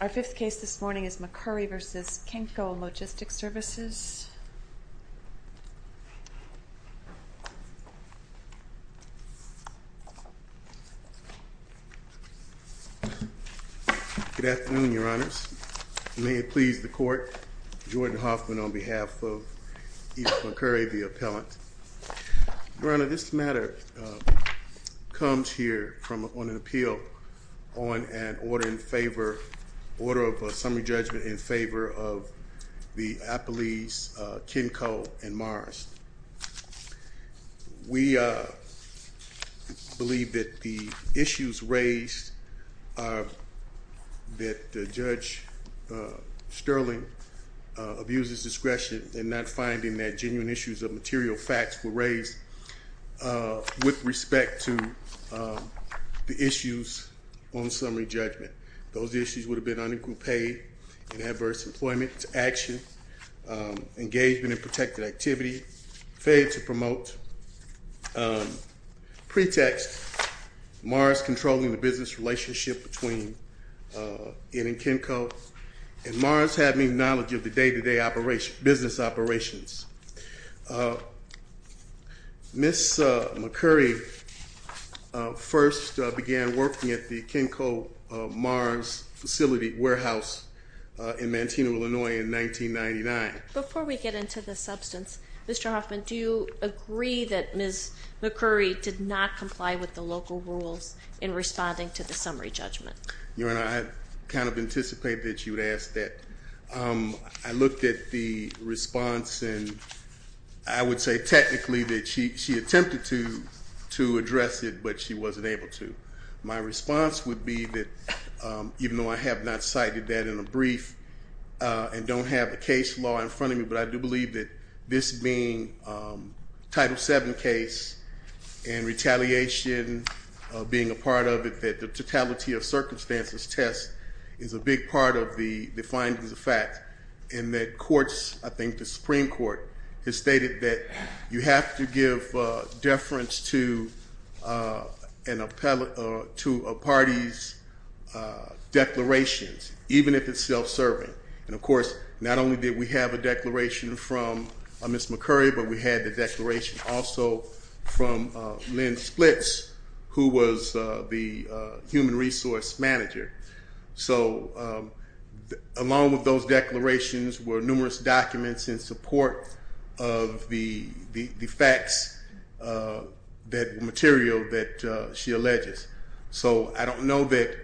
Our fifth case this morning is McCurry v. Kenco Logistic Services. Good afternoon, Your Honors. May it please the Court, Jordan Hoffman on behalf of Edith McCurry, the appellant, Your Honor, this matter comes here on an appeal on an order of summary judgment in favor of the appellees Kenco and Morris. We believe that the issues raised are that Judge Sterling abuses discretion in not finding that genuine issues of material facts were raised with respect to the issues on summary judgment. Those issues would have been under group A in adverse employment action, engagement in protected activity, failure to promote pretext, Morris controlling the business relationship between Ed and Kenco, and Morris having knowledge of the day-to-day business operations. Ms. McCurry first began working at the Kenco-Morris facility warehouse in Manteno, Illinois in 1999. Before we get into the substance, Mr. Hoffman, do you agree that Ms. McCurry did not comply with the local rules in responding to the summary judgment? Your Honor, I kind of anticipate that you would ask that. I looked at the response and I would say technically that she attempted to address it, but she wasn't able to. My response would be that even though I have not cited that in a brief and don't have a case law in front of me, but I do believe that this being a Title VII case and retaliation being a part of it, that the totality of circumstances test is a big part of the findings of fact. And that courts, I think the Supreme Court, has stated that you have to give deference to a party's declarations, even if it's self-serving. And of course, not only did we have a declaration from Ms. McCurry, but we had the declaration also from Lynn Splitz, who was the human resource manager. So along with those declarations were numerous documents in support of the facts that material that she alleges. So I don't know that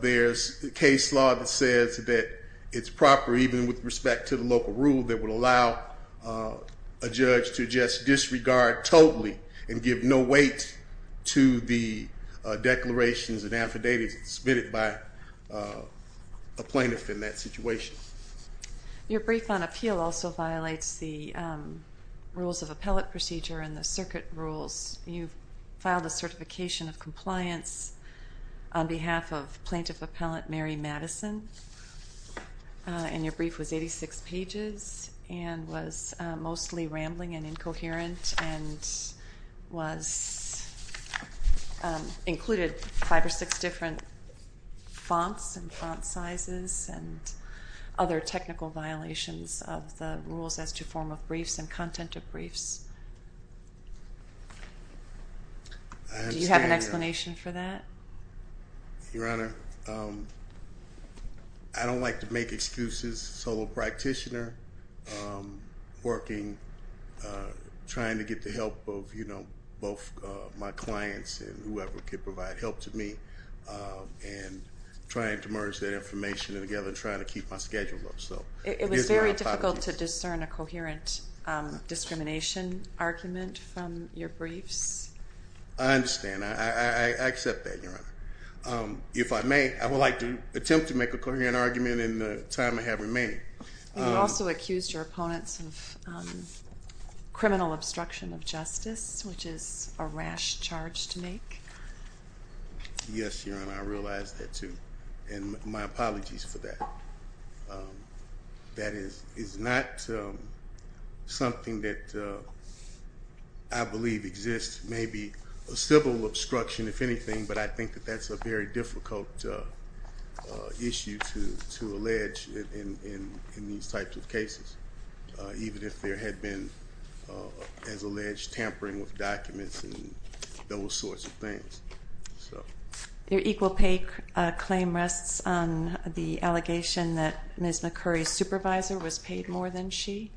there's a case law that says that it's proper, even with respect to the local rule, that would allow a judge to just disregard totally and give no weight to the declarations and affidavits submitted by a plaintiff in that situation. Your brief on appeal also violates the rules of appellate procedure and the circuit rules. You filed a certification of compliance on behalf of Plaintiff Appellant Mary Madison, and your brief was 86 pages and was mostly rambling and incoherent and included five or six different fonts and font sizes and other technical violations of the rules as to form of briefs and content of briefs. Do you have an explanation for that? Your Honor, I don't like to make excuses. I'm a solo practitioner working, trying to get the help of both my clients and whoever can provide help to me, and trying to merge that information together and trying to keep my schedule up. It was very difficult to discern a coherent discrimination argument from your briefs? I understand. I accept that, Your Honor. If I may, I would like to attempt to make a coherent argument in the time I have remaining. You also accused your opponents of criminal obstruction of justice, which is a rash charge to make. Yes, Your Honor, I realize that too, and my apologies for that. That is not something that I believe exists, maybe a civil obstruction, if anything, but I think that that's a very difficult issue to allege in these types of cases, even if there had been, as alleged, tampering with documents and those sorts of things. Your equal pay claim rests on the allegation that Ms. McCurry's supervisor was paid more than she?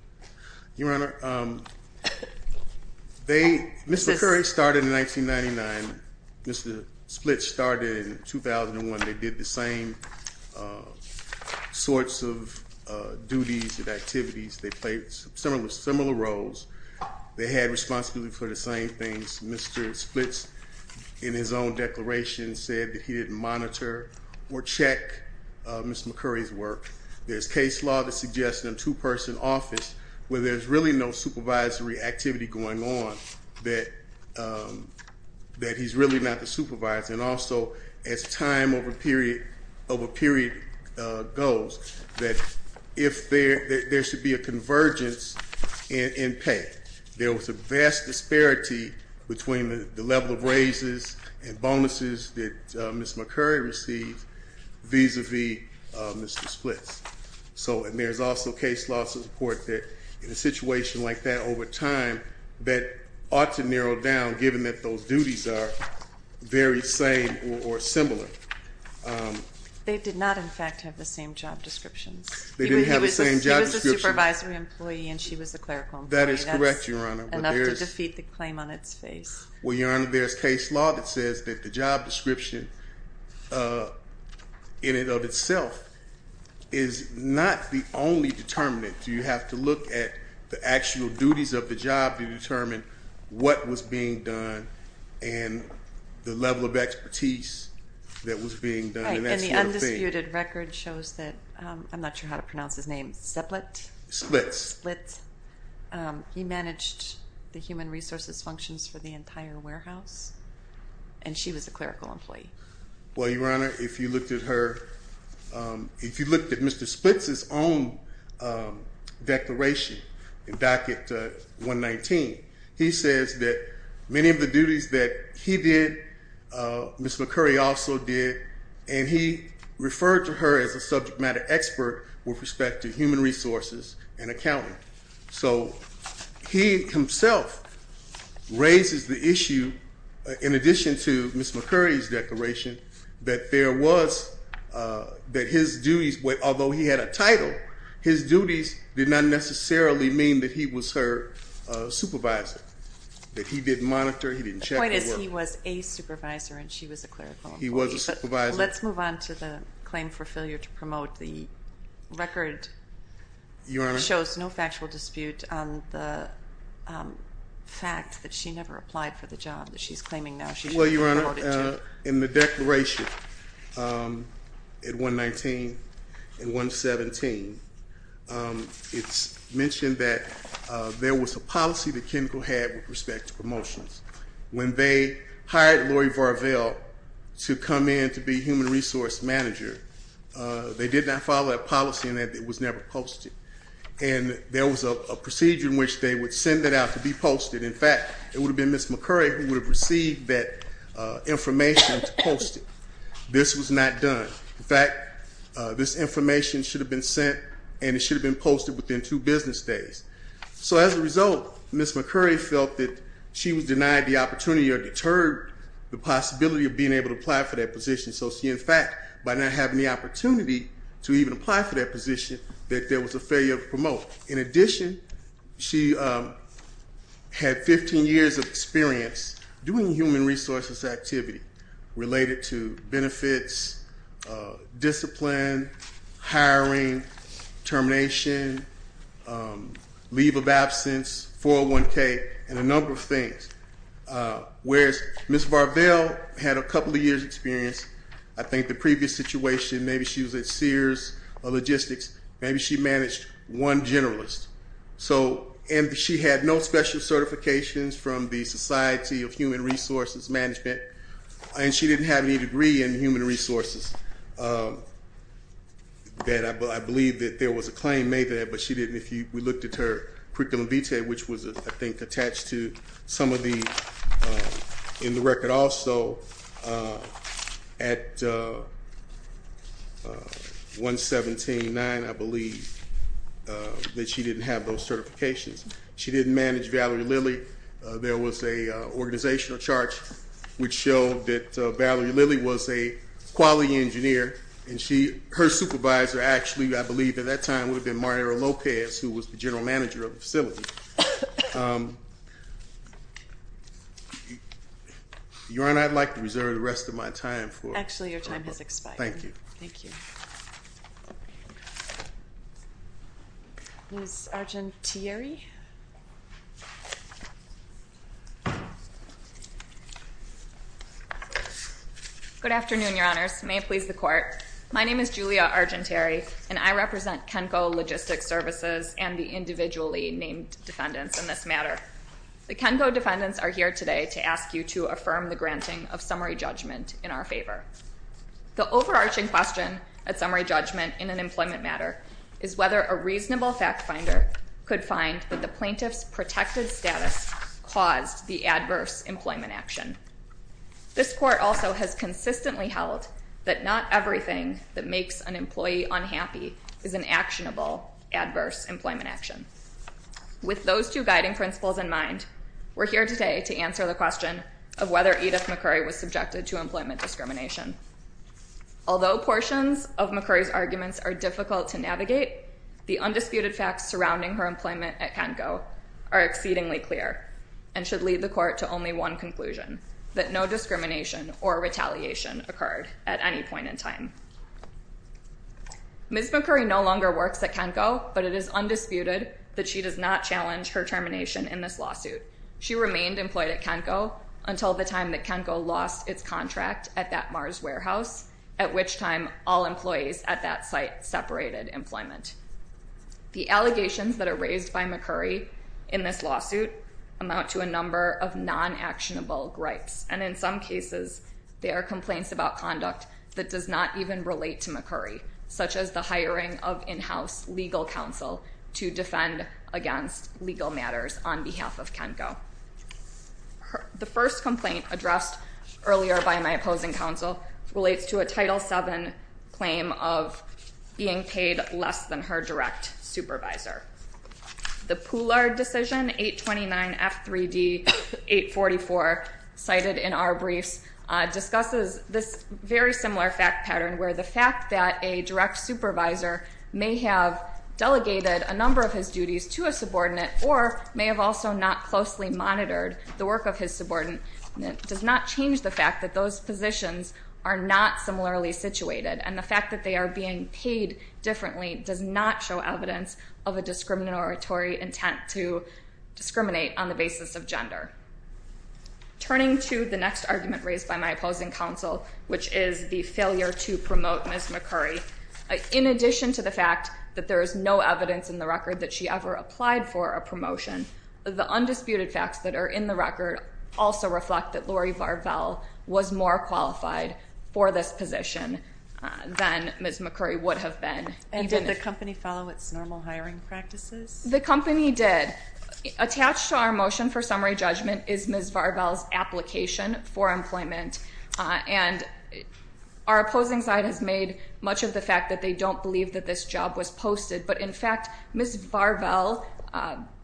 Your Honor, Ms. McCurry started in 1999. Mr. Splits started in 2001. They did the same sorts of duties and activities. They played similar roles. They had responsibility for the same things. Mr. Splits, in his own declaration, said that he didn't monitor or check Ms. McCurry's work. There's case law that suggests in a two-person office, where there's really no supervisory activity going on, that he's really not the supervisor. And also, as time over period goes, that there should be a convergence in pay. There was a vast disparity between the level of raises and bonuses that Ms. McCurry received vis-a-vis Mr. Splits. So, and there's also case law support that in a situation like that over time that ought to narrow down given that those duties are very same or similar. They did not, in fact, have the same job descriptions. They didn't have the same job descriptions. He was a supervisory employee and she was a clerical employee. That is correct, Your Honor. That's enough to defeat the claim on its face. Well, Your Honor, there's case law that says that the job description in and of itself is not the only determinant. You have to look at the actual duties of the job to determine what was being done and the level of expertise that was being done. Right, and the undisputed record shows that, I'm not sure how to pronounce his name, Zeplit? Splits. Splits. He managed the human resources functions for the entire warehouse and she was a clerical employee. Well, Your Honor, if you looked at her, if you looked at Mr. Splits' own declaration, docket 119, he says that many of the duties that he did, Ms. McCurry also did, and he referred to her as a subject matter expert with respect to human resources and accounting. So he himself raises the issue, in addition to Ms. McCurry's declaration, that there was, that his duties, although he had a title, his duties did not necessarily mean that he was her supervisor, that he didn't monitor, he didn't check. The point is he was a supervisor and she was a clerical employee. He was a supervisor. Let's move on to the claim for failure to promote. The record shows no factual dispute on the fact that she never applied for the job that she's claiming now. Well, Your Honor, in the declaration at 119 and 117, it's mentioned that there was a policy that Kenkel had with respect to promotions. When they hired Lori Varvel to come in to be human resource manager, they did not follow that policy and it was never posted. And there was a procedure in which they would send it out to be posted. In fact, it would have been Ms. McCurry who would have received that information to post it. This was not done. In fact, this information should have been sent and it should have been posted within two business days. So as a result, Ms. McCurry felt that she was denied the opportunity or deterred the possibility of being able to apply for that position. So she, in fact, by not having the opportunity to even apply for that position, that there was a failure to promote. In addition, she had 15 years of experience doing human resources activity related to benefits, discipline, hiring, termination, leave of absence, 401K, and a number of things. Whereas Ms. Varvel had a couple of years experience. I think the previous situation, maybe she was at Sears Logistics. Maybe she managed one generalist. And she had no special certifications from the Society of Human Resources Management. And she didn't have any degree in human resources. I believe that there was a claim made there, but she didn't. We looked at her curriculum vitae, which was, I think, attached to some of these. In the record also, at 117.9, I believe, that she didn't have those certifications. She didn't manage Valerie Lilly. There was a organizational chart which showed that Valerie Lilly was a quality engineer. And her supervisor, actually, I believe at that time, would have been Mario Lopez, who was the general manager of the facility. Your Honor, I'd like to reserve the rest of my time for- Actually, your time has expired. Thank you. Thank you. Ms. Argentieri. Good afternoon, Your Honors. May it please the Court. My name is Julia Argentieri, and I represent Kenco Logistics Services and the individually named defendants in this matter. The Kenco defendants are here today to ask you to affirm the granting of summary judgment in our favor. The overarching question at summary judgment in an employment matter is whether a reasonable fact finder could find that the plaintiff's protected status caused the adverse employment action. This Court also has consistently held that not everything that makes an employee unhappy is an actionable adverse employment action. With those two guiding principles in mind, we're here today to answer the question of whether Edith McCurry was subjected to employment discrimination. Although portions of McCurry's arguments are difficult to navigate, the undisputed facts surrounding her employment at Kenco are exceedingly clear and should lead the Court to only one conclusion, that no discrimination or retaliation occurred at any point in time. Ms. McCurry no longer works at Kenco, but it is undisputed that she does not challenge her termination in this lawsuit. She remained employed at Kenco until the time that Kenco lost its contract at that Mars warehouse, at which time all employees at that site separated employment. The allegations that are raised by McCurry in this lawsuit amount to a number of non-actionable gripes, and in some cases, they are complaints about conduct that does not even relate to McCurry, such as the hiring of in-house legal counsel to defend against legal matters on behalf of Kenco. The first complaint addressed earlier by my opposing counsel relates to a Title VII claim of being paid less than her direct supervisor. The Poulard decision, 829F3D844, cited in our briefs, discusses this very similar fact pattern where the fact that a direct supervisor may have delegated a number of his duties to a subordinate or may have also not closely monitored the work of his subordinate does not change the fact that those positions are not similarly situated, and the fact that they are being paid differently does not show evidence of a discriminatory intent to discriminate on the basis of gender. Turning to the next argument raised by my opposing counsel, which is the failure to promote Ms. McCurry, in addition to the fact that there is no evidence in the record that she ever applied for a promotion, the undisputed facts that are in the record also reflect that Lori Varvel was more qualified for this position than Ms. McCurry would have been. And did the company follow its normal hiring practices? The company did. Attached to our motion for summary judgment is Ms. Varvel's application for employment, and our opposing side has made much of the fact that they don't believe that this job was posted, but in fact, Ms. Varvel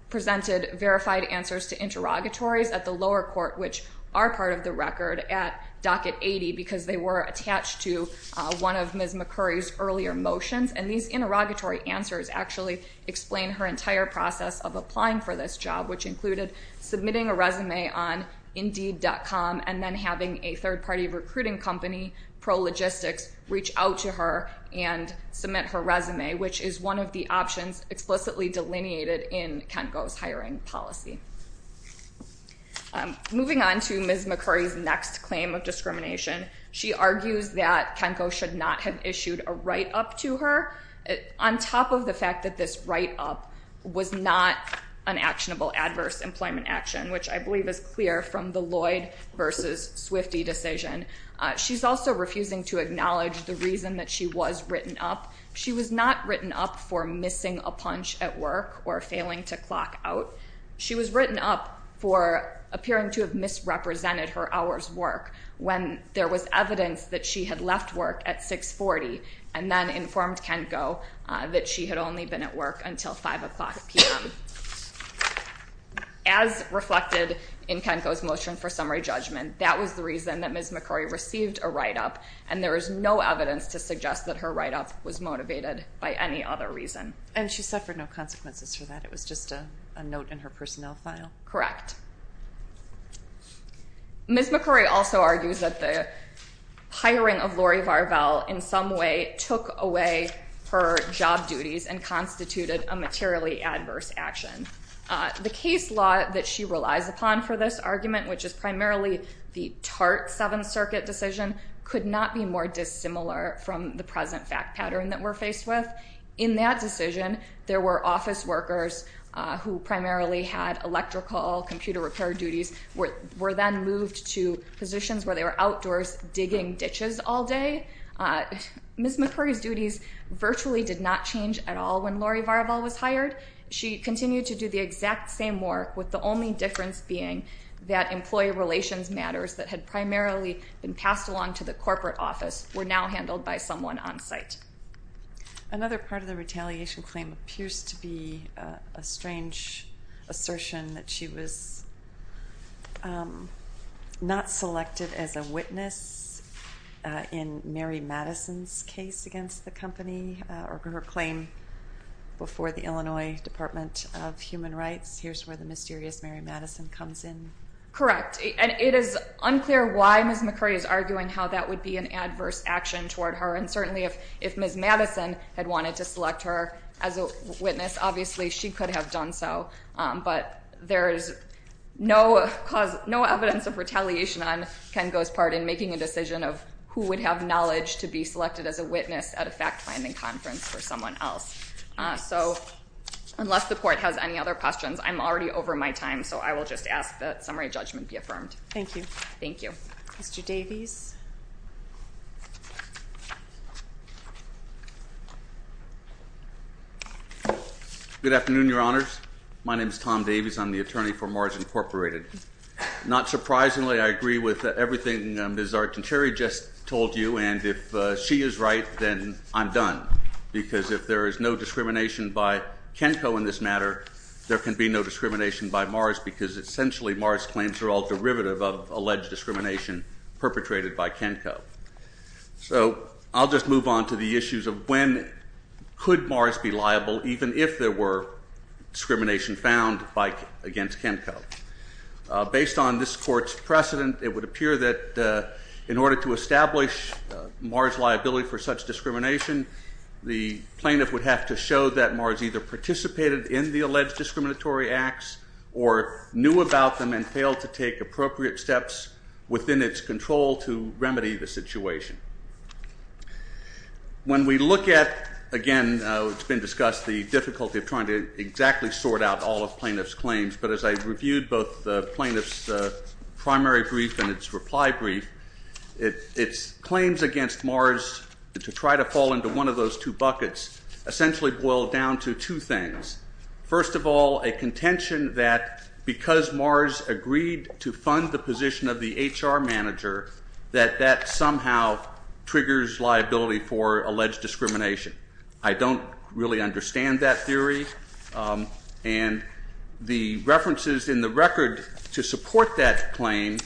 presented verified answers to interrogatories at the lower court, which are part of the record at Docket 80 because they were attached to one of Ms. McCurry's earlier motions, and these interrogatory answers actually explain her entire process of applying for this job, which included submitting a resume on Indeed.com and then having a third-party recruiting company, ProLogistics, reach out to her and submit her resume, which is one of the options explicitly delineated in KENCO's hiring policy. Moving on to Ms. McCurry's next claim of discrimination, she argues that KENCO should not have issued a write-up to her, on top of the fact that this write-up was not an actionable adverse employment action, which I believe is clear from the Lloyd v. Swifty decision. She's also refusing to acknowledge the reason that she was written up. She was not written up for missing a punch at work or failing to clock out. She was written up for appearing to have misrepresented her hour's work when there was evidence that she had left work at 640 and then informed KENCO that she had only been at work until 5 o'clock p.m. As reflected in KENCO's motion for summary judgment, that was the reason that Ms. McCurry received a write-up, and there is no evidence to suggest that her write-up was motivated by any other reason. And she suffered no consequences for that? It was just a note in her personnel file? Correct. Ms. McCurry also argues that the hiring of Lori Varvel, in some way, took away her job duties and constituted a materially adverse action. The case law that she relies upon for this argument, which is primarily the TART Seventh Circuit decision, could not be more dissimilar from the present fact pattern that we're faced with. In that decision, there were office workers who primarily had electrical, computer repair duties, were then moved to positions where they were outdoors digging ditches all day. Ms. McCurry's duties virtually did not change at all when Lori Varvel was hired. She continued to do the exact same work, with the only difference being that employee relations matters that had primarily been passed along to the corporate office were now handled by someone on site. Another part of the retaliation claim appears to be a strange assertion that she was not selected as a witness in Mary Madison's case against the company, or her claim before the Illinois Department of Human Rights. Here's where the mysterious Mary Madison comes in. Correct. And it is unclear why Ms. McCurry is arguing how that would be an adverse action toward her, and certainly if Ms. Madison had wanted to select her as a witness, obviously she could have done so. But there is no evidence of retaliation on Ken Goh's part in making a decision of who would have knowledge to be selected as a witness at a fact-finding conference for someone else. So unless the court has any other questions, I'm already over my time, so I will just ask that summary judgment be affirmed. Thank you. Thank you. Mr. Davies. Good afternoon, Your Honors. My name is Tom Davies. I'm the attorney for Mars Incorporated. Not surprisingly, I agree with everything Ms. Archancheri just told you, and if she is right, then I'm done, because if there is no discrimination by Ken Goh in this matter, there can be no discrimination by Mars, because essentially Mars claims are all derivative of alleged discrimination perpetrated by Ken Goh. So I'll just move on to the issues of when could Mars be liable, even if there were discrimination found against Ken Goh. Based on this court's precedent, it would appear that in order to establish Mars' liability for such discrimination, the plaintiff would have to show that Mars either participated in the alleged discriminatory acts or knew about them and failed to take appropriate steps within its control to remedy the situation. When we look at, again, it's been discussed, the difficulty of trying to exactly sort out all of plaintiff's claims, but as I reviewed both the plaintiff's primary brief and its reply brief, its claims against Mars to try to fall into one of those two buckets essentially boil down to two things. First of all, a contention that because Mars agreed to fund the position of the HR manager, that that somehow triggers liability for alleged discrimination. I don't really understand that theory, and the references in the record to support that claim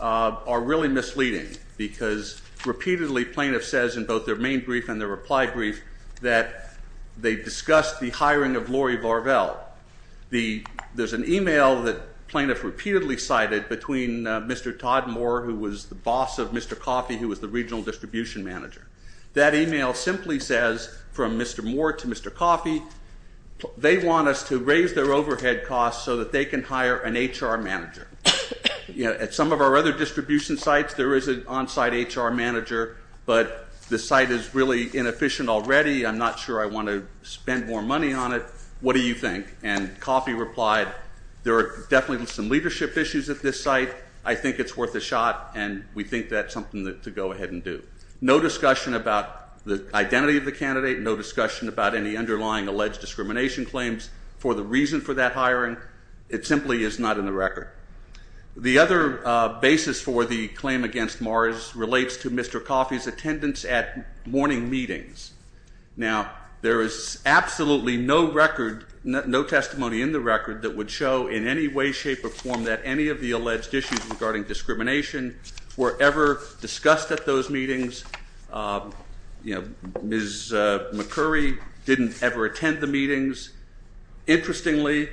are really misleading, because repeatedly plaintiff says in both their main brief and their reply brief that they discussed the hiring of Lori Varvel. There's an e-mail that plaintiff repeatedly cited between Mr. Todd Moore, who was the boss of Mr. Coffey, who was the regional distribution manager. That e-mail simply says from Mr. Moore to Mr. Coffey, they want us to raise their overhead costs so that they can hire an HR manager. At some of our other distribution sites, there is an on-site HR manager, but the site is really inefficient already. I'm not sure I want to spend more money on it. What do you think? And Coffey replied, there are definitely some leadership issues at this site. I think it's worth a shot, and we think that's something to go ahead and do. No discussion about the identity of the candidate. No discussion about any underlying alleged discrimination claims. For the reason for that hiring, it simply is not in the record. The other basis for the claim against Morris relates to Mr. Coffey's attendance at morning meetings. Now, there is absolutely no record, no testimony in the record that would show in any way, shape, or form that any of the alleged issues regarding discrimination were ever discussed at those meetings. Ms. McCurry didn't ever attend the meetings. Interestingly,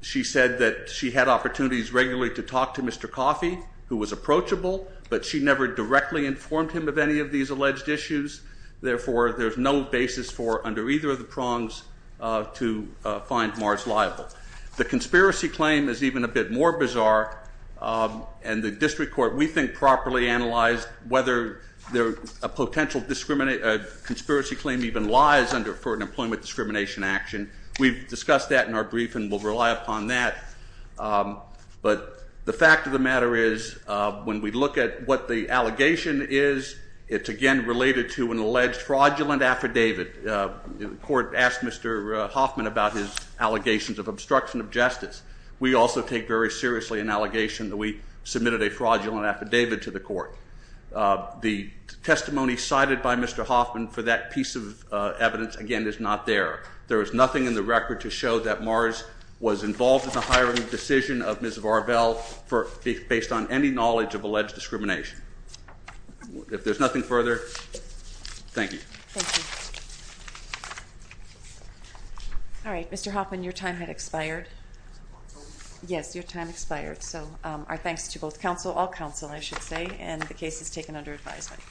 she said that she had opportunities regularly to talk to Mr. Coffey, who was approachable, but she never directly informed him of any of these alleged issues. Therefore, there's no basis for, under either of the prongs, to find Morris liable. The conspiracy claim is even a bit more bizarre, and the district court, we think, properly analyzed whether a potential conspiracy claim even lies under an employment discrimination action. We've discussed that in our brief, and we'll rely upon that. But the fact of the matter is, when we look at what the allegation is, it's, again, related to an alleged fraudulent affidavit. The court asked Mr. Hoffman about his allegations of obstruction of justice. We also take very seriously an allegation that we submitted a fraudulent affidavit to the court. The testimony cited by Mr. Hoffman for that piece of evidence, again, is not there. There is nothing in the record to show that Morris was involved in the hiring decision of Ms. Varvel, based on any knowledge of alleged discrimination. If there's nothing further, thank you. Thank you. All right, Mr. Hoffman, your time had expired. Yes, your time expired. So our thanks to both counsel, all counsel, I should say, and the case is taken under advisement.